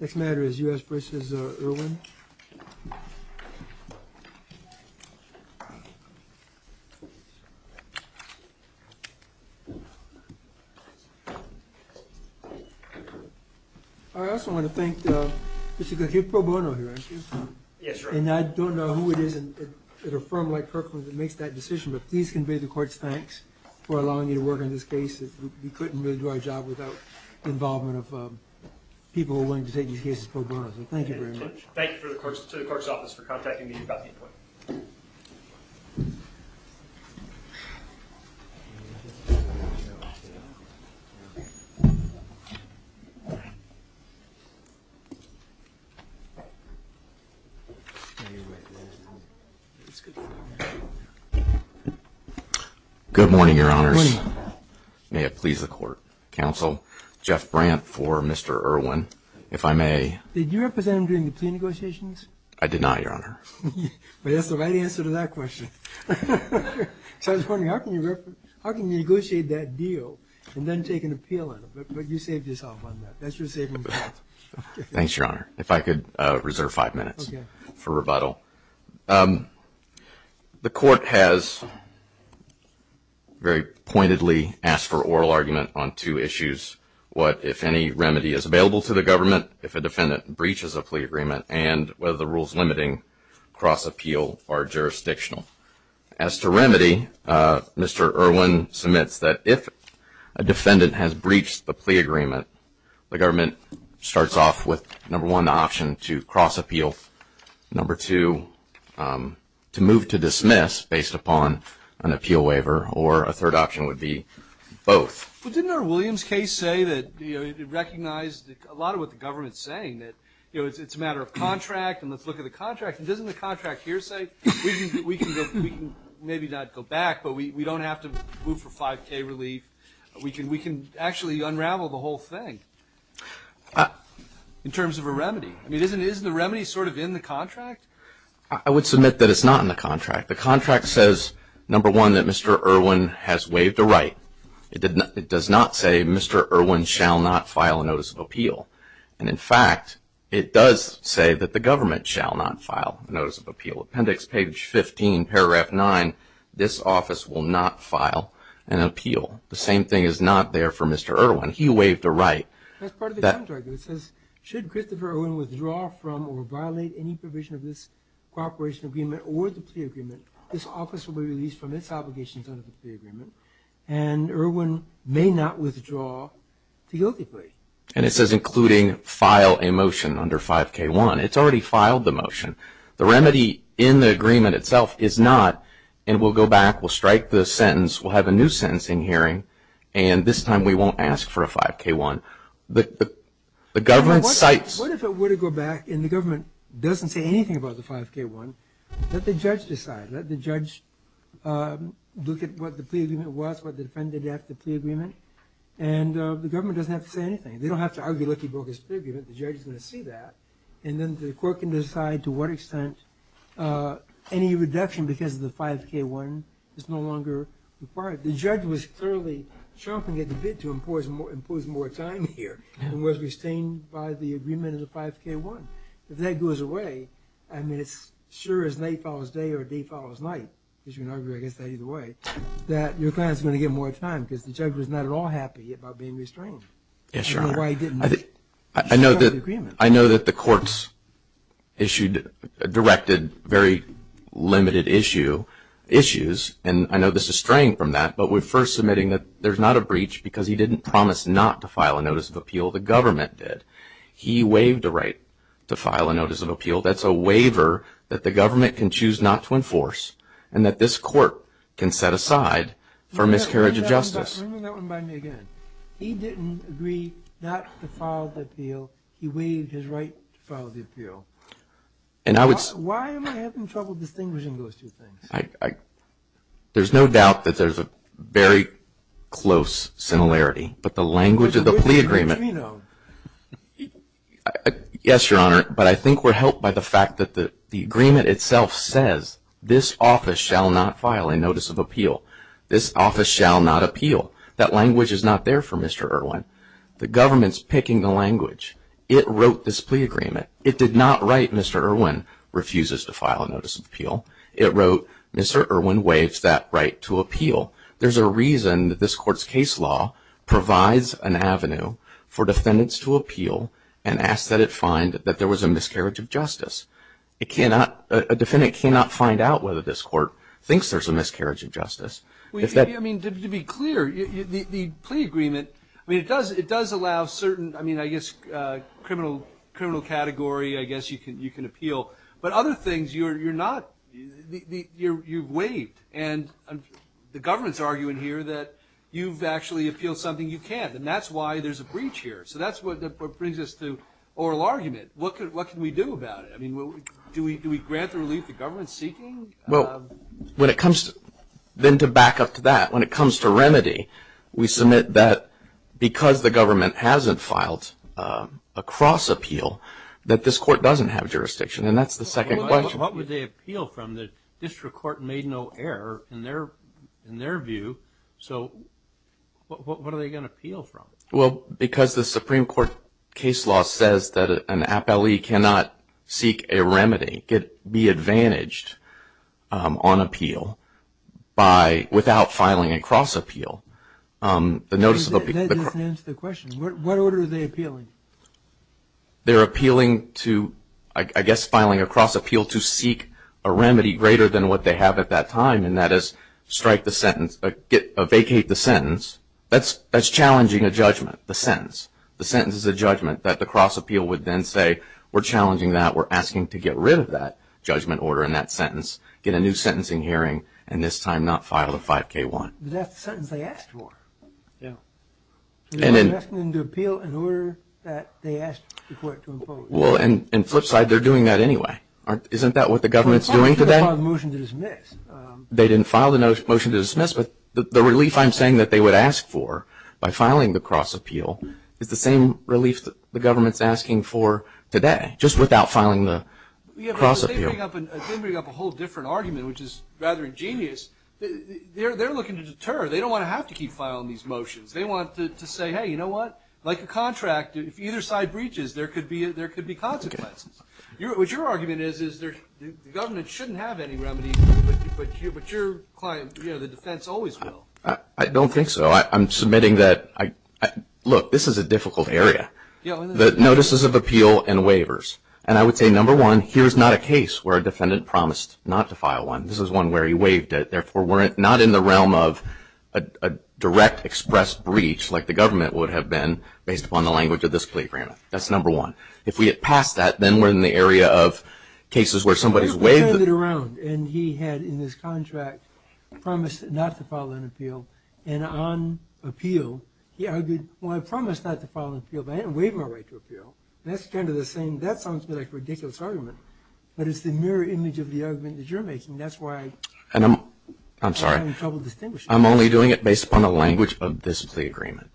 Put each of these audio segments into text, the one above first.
Next matter is U.S. v. Erwin. I also want to thank Mr. Keith Pro Bono here, and I don't know who it is at a firm like Kirkland that makes that decision, but please convey the court's thanks for allowing me to work on this case. We couldn't really do our job without the involvement of people who are willing to take these cases pro bono. So thank you very much. Thank you to the clerk's office for contacting me about the appointment. Good morning, Your Honors. Good morning. May it please the court. Counsel Jeff Brandt for Mr. Erwin. If I may. Did you represent him during the plea negotiations? I did not, Your Honor. But that's the right answer to that question. So I was wondering, how can you negotiate that deal and then take an appeal on it? But you saved yourself on that. That's your saving grace. Thanks, Your Honor. If I could reserve five minutes for rebuttal. The court has very pointedly asked for oral argument on two issues, what if any remedy is available to the government if a defendant breaches a plea agreement and whether the rules limiting cross-appeal are jurisdictional. As to remedy, Mr. Erwin submits that if a defendant has breached the plea agreement, the government starts off with, number one, the option to cross-appeal. Number two, to move to dismiss based upon an appeal waiver. Or a third option would be both. Well, didn't our Williams case say that it recognized a lot of what the government is saying, that it's a matter of contract and let's look at the contract. And doesn't the contract here say we can maybe not go back, but we don't have to move for 5K relief. We can actually unravel the whole thing in terms of a remedy. I mean, isn't a remedy sort of in the contract? I would submit that it's not in the contract. The contract says, number one, that Mr. Erwin has waived a right. It does not say Mr. Erwin shall not file a notice of appeal. And, in fact, it does say that the government shall not file a notice of appeal. Appendix page 15, paragraph 9, this office will not file an appeal. The same thing is not there for Mr. Erwin. He waived a right. That's part of the contract. It says, should Christopher Erwin withdraw from or violate any provision of this cooperation agreement or the plea agreement, this office will be released from its obligations under the plea agreement. And Erwin may not withdraw to guilty plea. And it says, including file a motion under 5K1. It's already filed the motion. The remedy in the agreement itself is not, and we'll go back, we'll strike the sentence, we'll have a new sentencing hearing, and this time we won't ask for a 5K1. The government cites. What if it were to go back and the government doesn't say anything about the 5K1? Let the judge decide. Let the judge look at what the plea agreement was, what the defendant had to plea agreement. And the government doesn't have to say anything. They don't have to argue like he broke his plea agreement. The judge is going to see that. And then the court can decide to what extent any reduction because of the 5K1 is no longer required. The judge was clearly chomping at the bit to impose more time here, and was restrained by the agreement of the 5K1. If that goes away, I mean, it's sure as night follows day or day follows night, because you can argue, I guess, that either way, that your client is going to get more time because the judge was not at all happy about being restrained. Yes, Your Honor. I know that the courts issued, directed very limited issues, and I know this is straying from that, but we're first admitting that there's not a breach because he didn't promise not to file a notice of appeal. The government did. That's a waiver that the government can choose not to enforce, and that this court can set aside for miscarriage of justice. Remember that one by me again. He didn't agree not to file the appeal. He waived his right to file the appeal. Why am I having trouble distinguishing those two things? There's no doubt that there's a very close similarity, but the language of the plea agreement. It's a breach of the treaty note. Yes, Your Honor, but I think we're helped by the fact that the agreement itself says, this office shall not file a notice of appeal. This office shall not appeal. That language is not there for Mr. Irwin. The government's picking the language. It wrote this plea agreement. It did not write Mr. Irwin refuses to file a notice of appeal. It wrote Mr. Irwin waives that right to appeal. There's a reason that this court's case law provides an avenue for defendants to appeal and ask that it find that there was a miscarriage of justice. A defendant cannot find out whether this court thinks there's a miscarriage of justice. I mean, to be clear, the plea agreement, I mean, it does allow certain, I mean, I guess criminal category, I guess you can appeal. And the government's arguing here that you've actually appealed something you can't, and that's why there's a breach here. So that's what brings us to oral argument. What can we do about it? I mean, do we grant the relief the government's seeking? Well, when it comes to, then to back up to that, when it comes to remedy, we submit that because the government hasn't filed a cross appeal, that this court doesn't have jurisdiction, and that's the second question. What would they appeal from? The district court made no error in their view. So what are they going to appeal from? Well, because the Supreme Court case law says that an appellee cannot seek a remedy, be advantaged on appeal without filing a cross appeal. That doesn't answer the question. What order are they appealing? They're appealing to, I guess, filing a cross appeal to seek a remedy greater than what they have at that time, and that is strike the sentence, vacate the sentence. That's challenging a judgment, the sentence. The sentence is a judgment that the cross appeal would then say, we're challenging that, we're asking to get rid of that judgment order and that sentence, get a new sentencing hearing, and this time not file a 5K1. That's the sentence they asked for. Yeah. They're asking them to appeal in order that they asked the court to impose. Well, and flip side, they're doing that anyway. Isn't that what the government's doing today? They didn't file the motion to dismiss. They didn't file the motion to dismiss, but the relief I'm saying that they would ask for by filing the cross appeal is the same relief the government's asking for today, just without filing the cross appeal. They bring up a whole different argument, which is rather ingenious. They're looking to deter. They don't want to have to keep filing these motions. They want to say, hey, you know what, like a contract, if either side breaches, there could be consequences. What your argument is, is the government shouldn't have any remedy, but your client, you know, the defense always will. I don't think so. I'm submitting that, look, this is a difficult area, the notices of appeal and waivers. And I would say, number one, here's not a case where a defendant promised not to file one. This is one where he waived it, not in the realm of a direct express breach, like the government would have been based upon the language of this plea agreement. That's number one. If we get past that, then we're in the area of cases where somebody's waived it. He turned it around, and he had in his contract promised not to file an appeal. And on appeal, he argued, well, I promised not to file an appeal, but I didn't waive my right to appeal. That's kind of the same. That sounds like a ridiculous argument, but it's the mirror image of the argument that you're making. That's why I'm having trouble distinguishing. I'm sorry. I'm only doing it based upon the language of this plea agreement.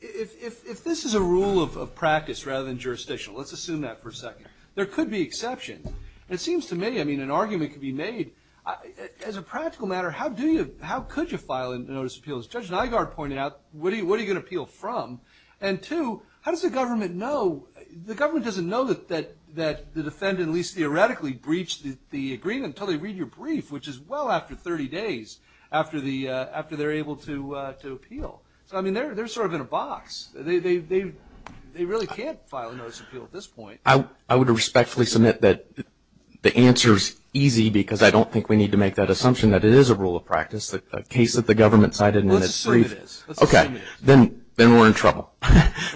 If this is a rule of practice rather than jurisdictional, let's assume that for a second. There could be exceptions. It seems to me, I mean, an argument could be made. As a practical matter, how could you file a notice of appeal? As Judge Nygaard pointed out, what are you going to appeal from? And two, how does the government know? The government doesn't know that the defendant at least theoretically breached the agreement until they read your brief, which is well after 30 days after they're able to appeal. So, I mean, they're sort of in a box. They really can't file a notice of appeal at this point. I would respectfully submit that the answer is easy because I don't think we need to make that assumption that it is a rule of practice, a case that the government cited in its brief. Let's assume it is. Okay. Then we're in trouble.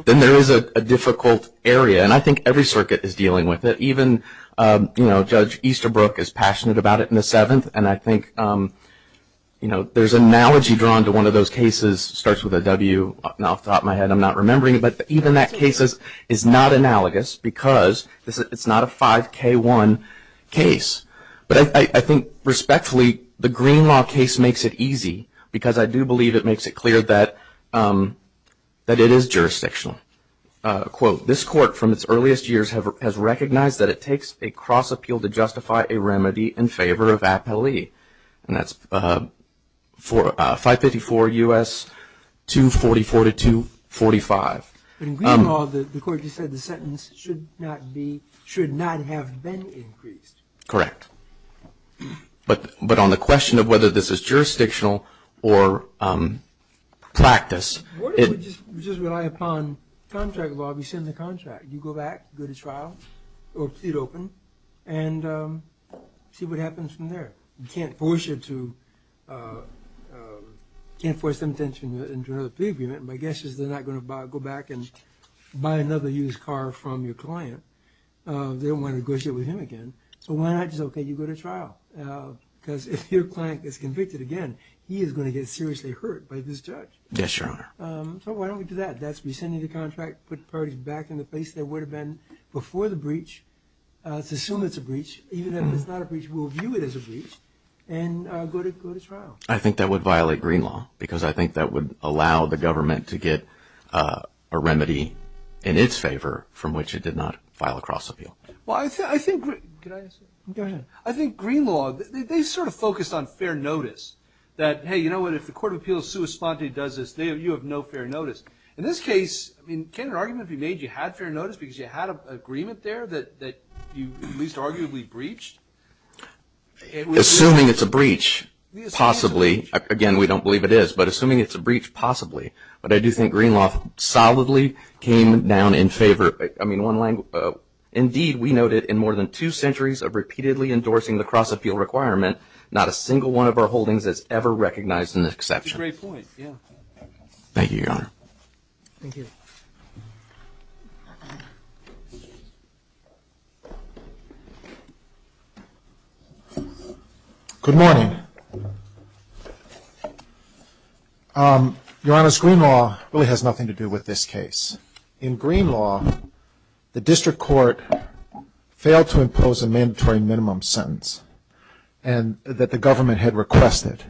Then there is a difficult area, and I think every circuit is dealing with it. Even, you know, Judge Easterbrook is passionate about it in the Seventh, and I think, you know, there's analogy drawn to one of those cases. It starts with a W off the top of my head. I'm not remembering it. But even that case is not analogous because it's not a 5K1 case. But I think, respectfully, the Green Law case makes it easy because I do believe it makes it clear that it is jurisdictional. Quote, this court from its earliest years has recognized that it takes a cross appeal to justify a remedy in favor of appellee. And that's 554 U.S. 244-245. In Green Law, the court just said the sentence should not have been increased. Correct. But on the question of whether this is jurisdictional or practice. We just rely upon contract law. We send the contract. You go back, go to trial, or plead open, and see what happens from there. You can't force them to enter into another plea agreement. My guess is they're not going to go back and buy another used car from your client. They don't want to negotiate with him again. So why not just, okay, you go to trial? Because if your client gets convicted again, he is going to get seriously hurt by this judge. Yes, Your Honor. So why don't we do that? That's rescinding the contract, put parties back in the place they would have been before the breach. Let's assume it's a breach. Even if it's not a breach, we'll view it as a breach and go to trial. I think that would violate Green Law because I think that would allow the government to get a remedy in its favor from which it did not file a cross appeal. Well, I think Green Law, they sort of focused on fair notice. That, hey, you know what? If the Court of Appeals sua sponte does this, you have no fair notice. In this case, I mean, can an argument be made you had fair notice because you had an agreement there that you at least arguably breached? Assuming it's a breach, possibly. Again, we don't believe it is. But assuming it's a breach, possibly. But I do think Green Law solidly came down in favor. Indeed, we noted in more than two centuries of repeatedly endorsing the cross appeal requirement, not a single one of our holdings has ever recognized an exception. That's a great point, yeah. Thank you, Your Honor. Thank you. Good morning. Your Honor, Green Law really has nothing to do with this case. In Green Law, the district court failed to impose a mandatory minimum sentence. And that the government had requested.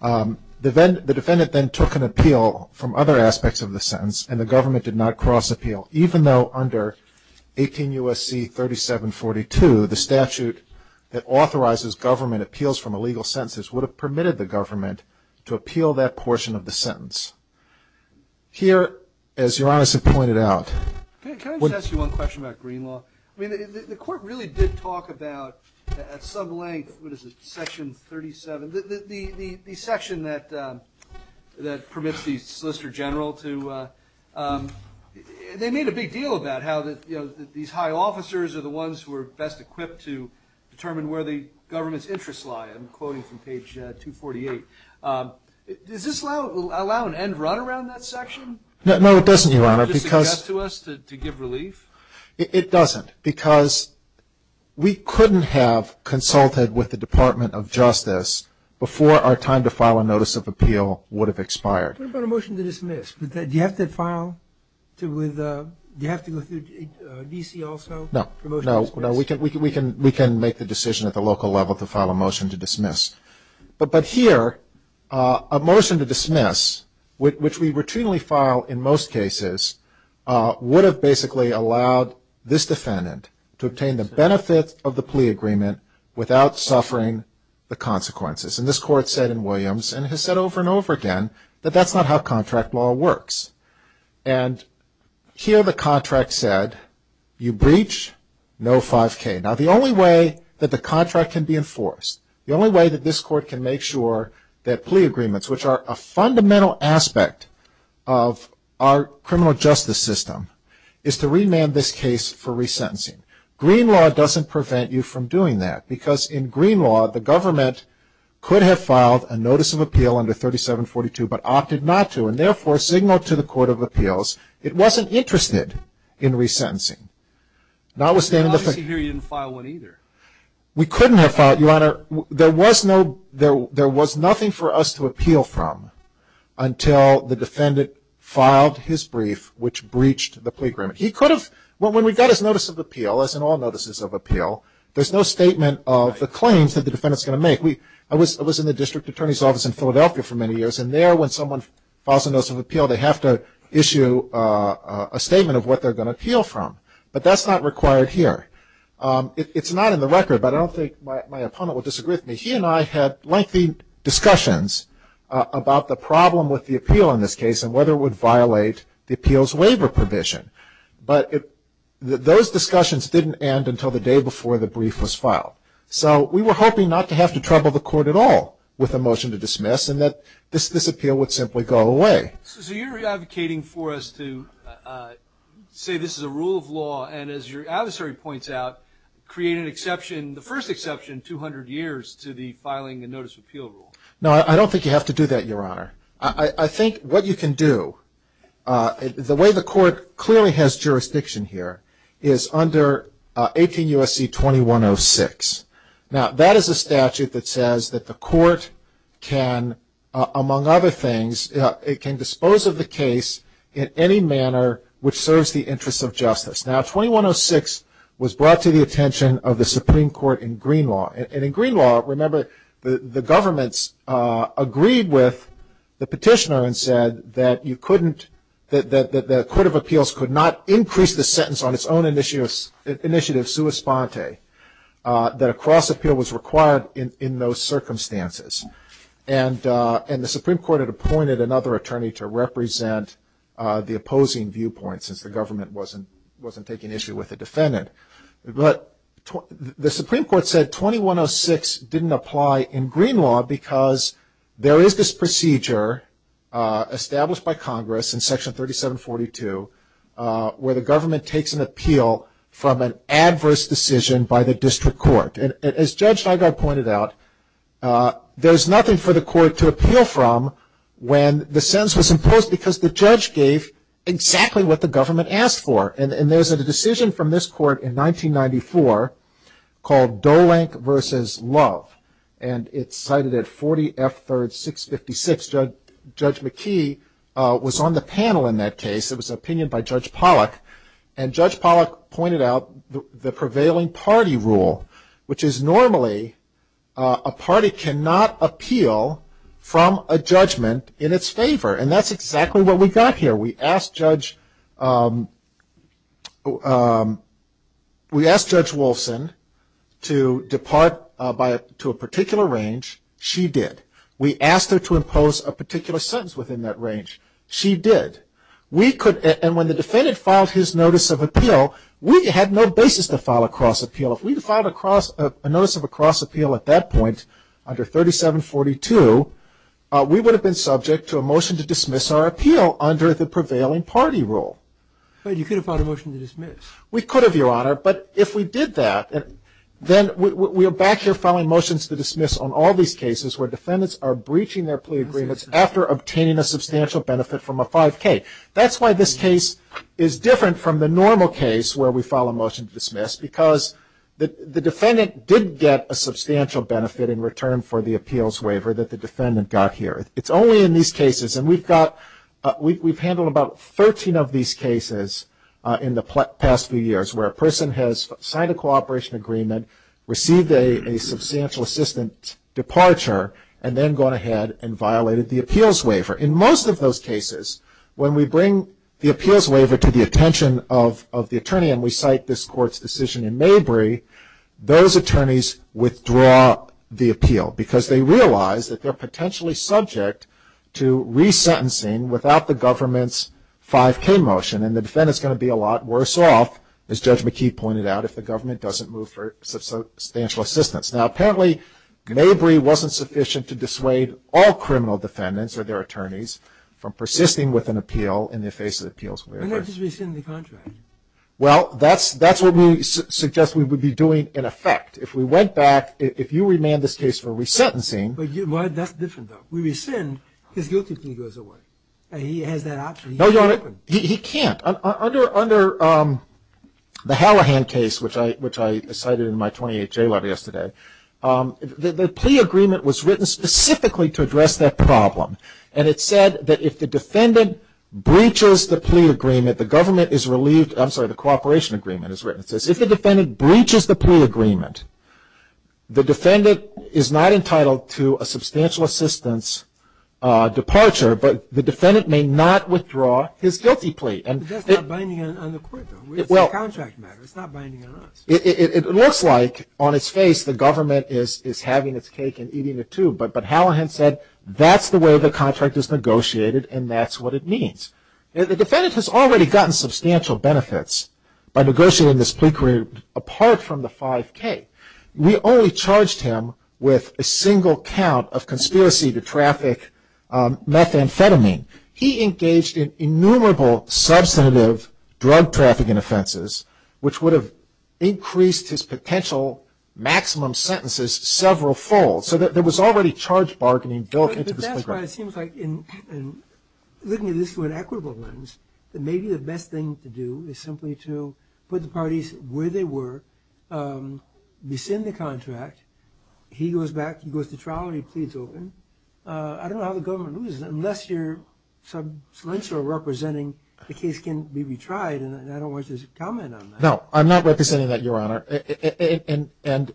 The defendant then took an appeal from other aspects of the sentence and the government did not cross appeal. Even though under 18 U.S.C. 3742, the statute that authorizes government appeals from illegal sentences would have permitted the government to appeal that portion of the sentence. Here, as Your Honor has pointed out. Can I just ask you one question about Green Law? I mean, the court really did talk about at some length, what is it, section 37. The section that permits the solicitor general to, they made a big deal about how these high officers are the ones who are best equipped to determine where the government's interests lie. I'm quoting from page 248. Does this allow an end run around that section? No, it doesn't, Your Honor. Does it suggest to us to give relief? It doesn't because we couldn't have consulted with the Department of Justice before our time to file a notice of appeal would have expired. What about a motion to dismiss? Do you have to file with, do you have to go through D.C. also? No. No, we can make the decision at the local level to file a motion to dismiss. But here, a motion to dismiss, which we routinely file in most cases, would have basically allowed this defendant to obtain the benefits of the plea agreement without suffering the consequences. And this court said in Williams, and has said over and over again, that that's not how contract law works. And here the contract said, you breach, no 5K. Now, the only way that the contract can be enforced, the only way that this court can make sure that plea agreements, which are a fundamental aspect of our criminal justice system, is to remand this case for resentencing. Green law doesn't prevent you from doing that because in green law, the government could have filed a notice of appeal under 3742, but opted not to, and therefore signaled to the Court of Appeals it wasn't interested in resentencing. Notwithstanding the fact. Obviously here you didn't file one either. We couldn't have filed, Your Honor. There was nothing for us to appeal from until the defendant filed his brief, which breached the plea agreement. He could have, when we got his notice of appeal, as in all notices of appeal, there's no statement of the claims that the defendant's going to make. I was in the district attorney's office in Philadelphia for many years, and there when someone files a notice of appeal, they have to issue a statement of what they're going to appeal from. But that's not required here. It's not in the record, but I don't think my opponent would disagree with me. He and I had lengthy discussions about the problem with the appeal in this case and whether it would violate the appeals waiver provision. But those discussions didn't end until the day before the brief was filed. So we were hoping not to have to trouble the court at all with a motion to dismiss and that this appeal would simply go away. So you're advocating for us to say this is a rule of law, and as your adversary points out, create an exception, the first exception 200 years to the filing a notice of appeal rule. No, I don't think you have to do that, Your Honor. I think what you can do, the way the court clearly has jurisdiction here, is under 18 U.S.C. 2106. Now, that is a statute that says that the court can, among other things, it can dispose of the case in any manner which serves the interests of justice. Now, 2106 was brought to the attention of the Supreme Court in green law. And in green law, remember, the governments agreed with the petitioner and said that you couldn't, that the Court of Appeals could not increase the sentence on its own initiative sua sponte, that a cross-appeal was required in those circumstances. And the Supreme Court had appointed another attorney to represent the opposing viewpoint since the government wasn't taking issue with the defendant. But the Supreme Court said 2106 didn't apply in green law because there is this procedure established by Congress in Section 3742 where the government takes an appeal from an adverse decision by the district court. And as Judge Nygaard pointed out, there's nothing for the court to appeal from when the sentence was imposed because the judge gave exactly what the government asked for. And there's a decision from this court in 1994 called Dolenk v. Love. And it's cited at 40 F. 3rd, 656. Judge McKee was on the panel in that case. It was an opinion by Judge Pollack. And Judge Pollack pointed out the prevailing party rule, which is normally a party cannot appeal from a judgment in its favor. And that's exactly what we got here. We asked Judge Wolfson to depart to a particular range. She did. We asked her to impose a particular sentence within that range. She did. And when the defendant filed his notice of appeal, we had no basis to file a cross-appeal. If we had filed a notice of a cross-appeal at that point under 3742, we would have been subject to a motion to dismiss our appeal under the prevailing party rule. But you could have filed a motion to dismiss. We could have, Your Honor. But if we did that, then we are back here filing motions to dismiss on all these cases where defendants are breaching their plea agreements after obtaining a substantial benefit from a 5K. That's why this case is different from the normal case where we file a motion to dismiss, because the defendant did get a substantial benefit in return for the appeals waiver that the defendant got here. It's only in these cases, and we've handled about 13 of these cases in the past few years, where a person has signed a cooperation agreement, received a substantial assistance departure, and then gone ahead and violated the appeals waiver. In most of those cases, when we bring the appeals waiver to the attention of the attorney and we cite this Court's decision in Mabry, those attorneys withdraw the appeal, because they realize that they're potentially subject to resentencing without the government's 5K motion, and the defendant's going to be a lot worse off, as Judge McKee pointed out, if the government doesn't move for substantial assistance. Now, apparently, Mabry wasn't sufficient to dissuade all criminal defendants or their attorneys from persisting with an appeal in the face of the appeals waiver. Why not just rescind the contract? Well, that's what we suggest we would be doing in effect. If we went back, if you remand this case for resentencing. That's different, though. We rescind, his guilty plea goes away, and he has that option. No, Your Honor, he can't. Under the Hallahan case, which I cited in my 28-J letter yesterday, the plea agreement was written specifically to address that problem, and it said that if the defendant breaches the plea agreement, the government is relieved. I'm sorry, the cooperation agreement is written. It says if the defendant breaches the plea agreement, the defendant is not entitled to a substantial assistance departure, but the defendant may not withdraw his guilty plea. But that's not binding on the Court, though. It's a contract matter. It's not binding on us. It looks like, on its face, the government is having its cake and eating it, too, but Hallahan said that's the way the contract is negotiated, and that's what it means. The defendant has already gotten substantial benefits by negotiating this plea agreement apart from the 5K. We only charged him with a single count of conspiracy to traffic methamphetamine. He engaged in innumerable substantive drug trafficking offenses, which would have increased his potential maximum sentences several folds. So there was already charged bargaining built into this plea agreement. But that's why it seems like, looking at this through an equitable lens, that maybe the best thing to do is simply to put the parties where they were, rescind the contract. He goes back, he goes to trial, and he pleads open. I don't know how the government loses it unless you're substantial representing the case can be retried, and I don't want you to comment on that. No, I'm not representing that, Your Honor. And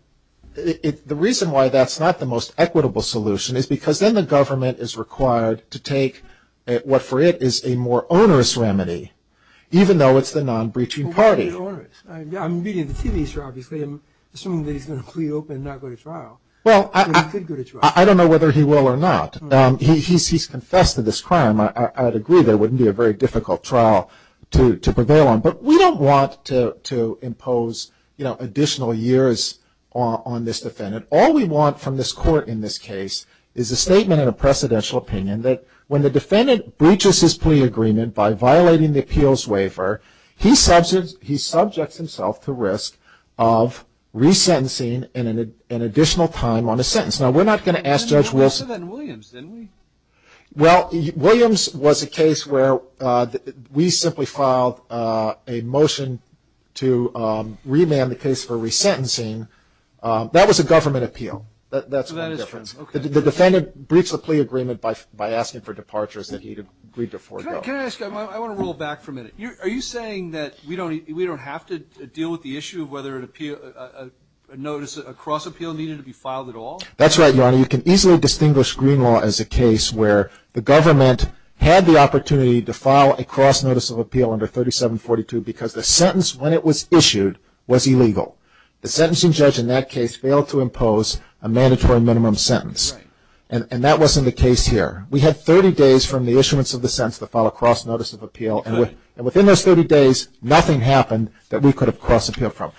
the reason why that's not the most equitable solution is because then the government is required to take what, for it, is a more onerous remedy, even though it's the non-breaching party. Well, what do you mean onerous? I'm reading the TV show, obviously, and assuming that he's going to plead open and not go to trial. Well, I don't know whether he will or not. He's confessed to this crime. I'd agree there wouldn't be a very difficult trial to prevail on. But we don't want to impose, you know, additional years on this defendant. All we want from this court in this case is a statement and a precedential opinion that when the defendant breaches his plea agreement by violating the appeals waiver, he subjects himself to risk of resentencing and an additional time on a sentence. Now, we're not going to ask Judge Wilson. We did that in Williams, didn't we? Well, Williams was a case where we simply filed a motion to remand the case for resentencing. That was a government appeal. That's the difference. The defendant breached the plea agreement by asking for departures that he agreed to forego. Can I ask, I want to roll back for a minute. Are you saying that we don't have to deal with the issue of whether a notice, a cross appeal needed to be filed at all? That's right, Your Honor. You know, you can easily distinguish green law as a case where the government had the opportunity to file a cross notice of appeal under 3742 because the sentence when it was issued was illegal. The sentencing judge in that case failed to impose a mandatory minimum sentence. And that wasn't the case here. We had 30 days from the issuance of the sentence to file a cross notice of appeal. And within those 30 days, nothing happened that we could have cross appealed from.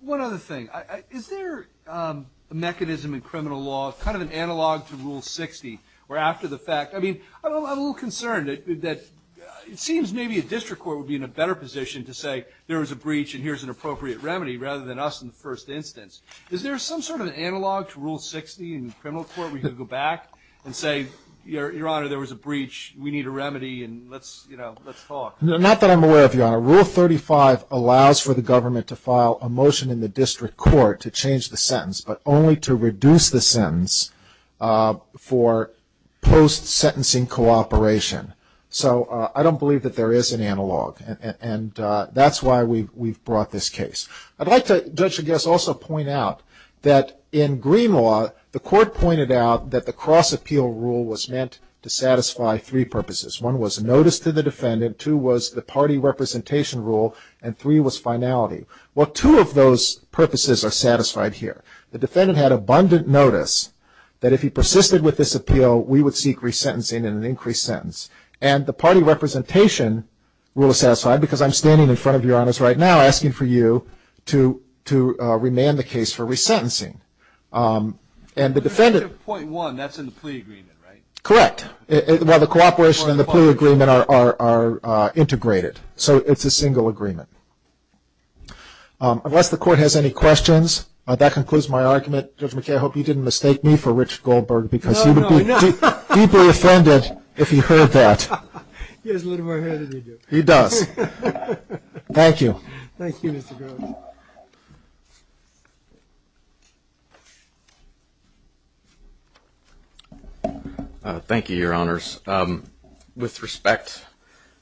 One other thing. Is there a mechanism in criminal law, kind of an analog to Rule 60, where after the fact, I mean, I'm a little concerned that it seems maybe a district court would be in a better position to say there was a breach and here's an appropriate remedy rather than us in the first instance. Is there some sort of analog to Rule 60 in criminal court where you could go back and say, Your Honor, there was a breach, we need a remedy, and let's, you know, let's talk? Not that I'm aware of, Your Honor. Rule 35 allows for the government to file a motion in the district court to change the sentence, but only to reduce the sentence for post-sentencing cooperation. So I don't believe that there is an analog. And that's why we've brought this case. I'd like to, Judge, I guess, also point out that in green law, the court pointed out that the cross appeal rule was meant to satisfy three purposes. One was notice to the defendant, two was the party representation rule, and three was finality. Well, two of those purposes are satisfied here. The defendant had abundant notice that if he persisted with this appeal, we would seek resentencing and an increased sentence. And the party representation rule is satisfied because I'm standing in front of Your Honors right now asking for you to remand the case for resentencing. And the defendant — The change of .1, that's in the plea agreement, right? Correct. Well, the cooperation and the plea agreement are integrated. So it's a single agreement. Unless the court has any questions, that concludes my argument. Judge McKay, I hope you didn't mistake me for Richard Goldberg, because he would be deeply offended if he heard that. He has a little more hair than you do. He does. Thank you. Thank you, Mr. Groves. Thank you, Your Honors. With respect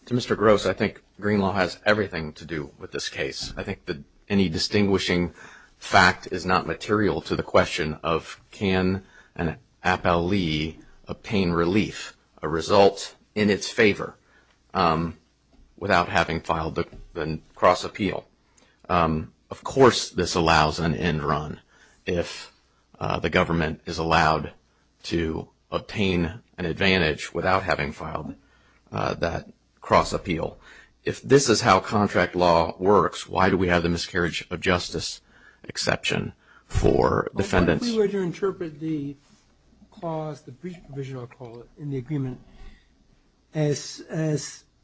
to Mr. Groves, I think Greenlaw has everything to do with this case. I think that any distinguishing fact is not material to the question of can an appellee obtain relief, a result in its favor, without having filed the cross-appeal. Of course this allows an end run if the government is allowed to obtain an advantage without having filed that cross-appeal. If this is how contract law works, why do we have the miscarriage of justice exception for defendants? If we were to interpret the clause, the brief provision, I'll call it, in the agreement as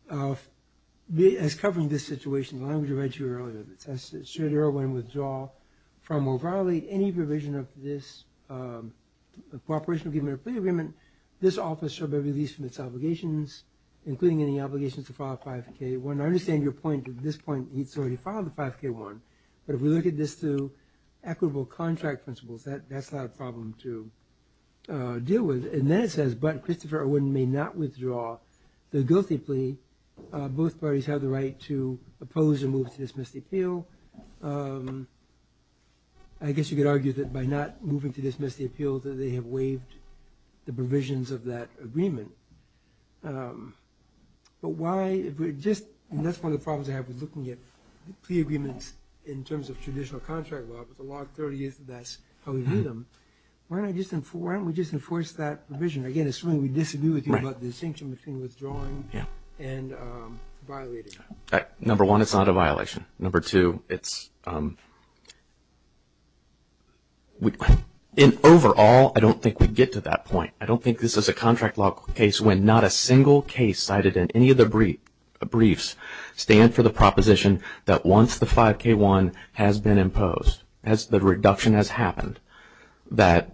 covering this situation, the language I read to you earlier, it says should Erwin withdraw from or violate any provision of this cooperation agreement or plea agreement, this office shall be released from its obligations, including any obligations to file a 5K1. I understand your point at this point. He's already filed the 5K1. But if we look at this through equitable contract principles, that's not a problem to deal with. And then it says, but Christopher Erwin may not withdraw the guilty plea. Both parties have the right to oppose or move to dismiss the appeal. I guess you could argue that by not moving to dismiss the appeal, that they have waived the provisions of that agreement. But why, if we're just, and that's one of the problems I have with looking at plea agreements in terms of traditional contract law, if it's a log 30, if that's how we read them, why don't we just enforce that provision? Again, assuming we disagree with you about the distinction between withdrawing and violating. Number one, it's not a violation. Number two, it's, in overall, I don't think we get to that point. I don't think this is a contract law case when not a single case cited in any of the briefs stand for the proposition that once the 5K1 has been imposed, as the reduction has happened, that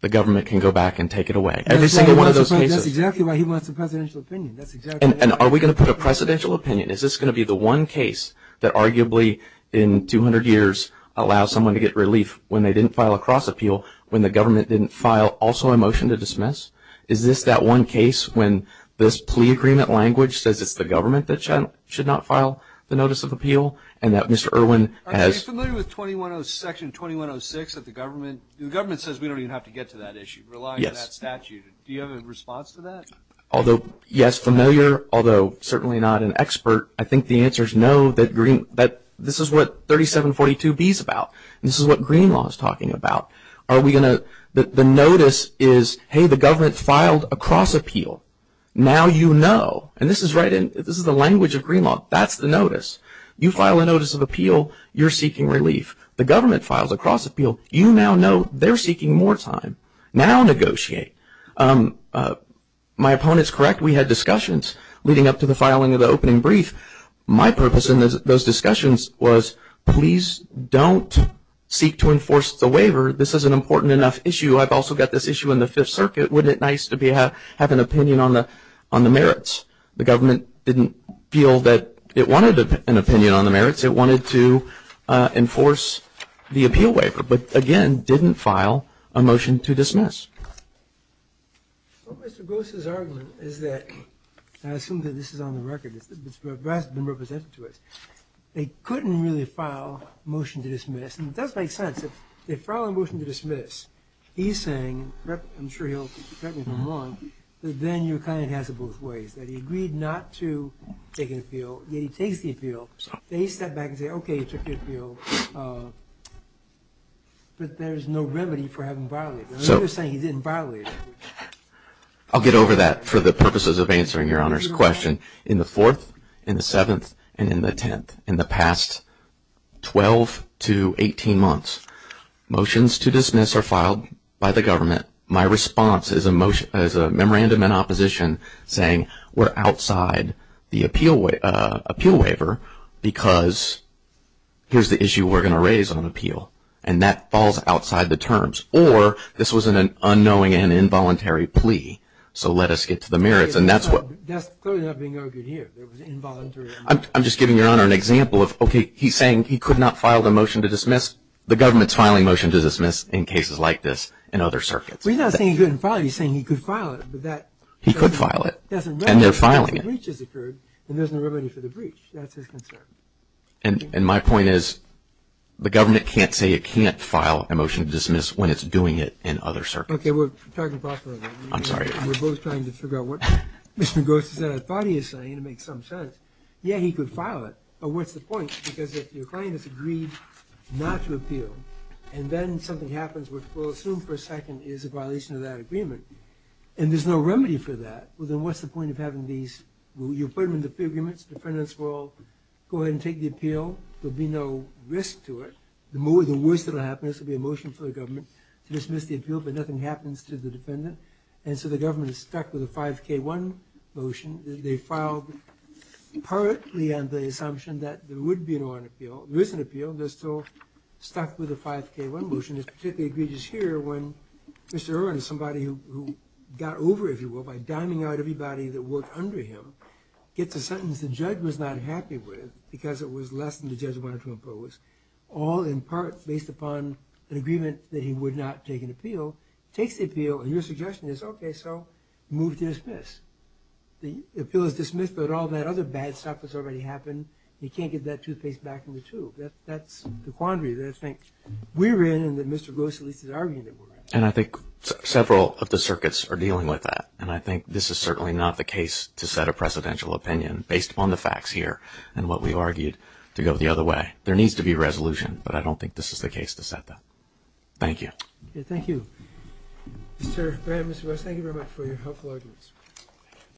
the government can go back and take it away. Every single one of those cases. That's exactly why he wants a presidential opinion. And are we going to put a presidential opinion? Is this going to be the one case that arguably in 200 years allows someone to get relief when they didn't file a cross appeal when the government didn't file also a motion to dismiss? Is this that one case when this plea agreement language says it's the government that should not file the notice of appeal and that Mr. Irwin has. Are you familiar with Section 2106 that the government, the government says we don't even have to get to that issue, rely on that statute. Do you have a response to that? Although, yes, familiar, although certainly not an expert. I think the answer is no. This is what 3742B is about. This is what Green Law is talking about. Are we going to, the notice is, hey, the government filed a cross appeal. Now you know. And this is right in, this is the language of Green Law. That's the notice. You file a notice of appeal, you're seeking relief. The government files a cross appeal. You now know they're seeking more time. Now negotiate. My opponent's correct. We had discussions leading up to the filing of the opening brief. My purpose in those discussions was please don't seek to enforce the waiver. This is an important enough issue. I've also got this issue in the Fifth Circuit. Wouldn't it be nice to have an opinion on the merits? The government didn't feel that it wanted an opinion on the merits. It wanted to enforce the appeal waiver, but, again, didn't file a motion to dismiss. Well, Mr. Gross's argument is that, and I assume that this is on the record, it's been represented to us, they couldn't really file a motion to dismiss. And it does make sense. If they file a motion to dismiss, he's saying, I'm sure he'll correct me if I'm wrong, that then your client has it both ways, that he agreed not to take an appeal, yet he takes the appeal. They step back and say, okay, you took the appeal, but there's no remedy for having violated it. He was saying he didn't violate it. I'll get over that for the purposes of answering Your Honor's question. In the Fourth, in the Seventh, and in the Tenth, in the past 12 to 18 months, motions to dismiss are filed by the government. My response is a memorandum in opposition saying we're outside the appeal waiver because here's the issue we're going to raise on appeal, and that falls outside the terms. Or this was an unknowing and involuntary plea, so let us get to the merits. That's clearly not being argued here. It was involuntary. I'm just giving Your Honor an example of, okay, he's saying he could not file the motion to dismiss. The government's filing a motion to dismiss in cases like this and other circuits. He's not saying he couldn't file it. He's saying he could file it. He could file it, and they're filing it. If a breach has occurred, then there's no remedy for the breach. That's his concern. And my point is the government can't say it can't file a motion to dismiss when it's doing it in other circuits. Okay, we're talking about that. I'm sorry. We're both trying to figure out what Mr. Gross is saying. I thought he was saying it would make some sense. Yeah, he could file it, but what's the point? Because if your client has agreed not to appeal, and then something happens, which we'll assume for a second is a violation of that agreement, and there's no remedy for that, well, then what's the point of having these? Well, you put them in the agreements. The defendants will go ahead and take the appeal. There will be no risk to it. The worst that will happen is there will be a motion for the government to dismiss the appeal, but nothing happens to the defendant, and so the government is stuck with a 5K1 motion. They filed partly on the assumption that there would be an Orrin appeal. There is an appeal. They're still stuck with a 5K1 motion. It's particularly egregious here when Mr. Orrin is somebody who got over, if you will, by diming out everybody that worked under him, gets a sentence the judge was not happy with because it was less than the judge wanted to impose, all in part based upon an agreement that he would not take an appeal, takes the appeal, and your suggestion is, okay, so move to dismiss. The appeal is dismissed, but all that other bad stuff has already happened, and he can't get that toothpaste back in the tube. That's the quandary that I think we're in and that Mr. Gross at least is arguing that we're in. And I think several of the circuits are dealing with that, and I think this is certainly not the case to set a presidential opinion based upon the facts here and what we've argued to go the other way. There needs to be resolution, but I don't think this is the case to set that. Thank you. Thank you. Mr. Graham, Mr. Gross, thank you very much for your helpful arguments.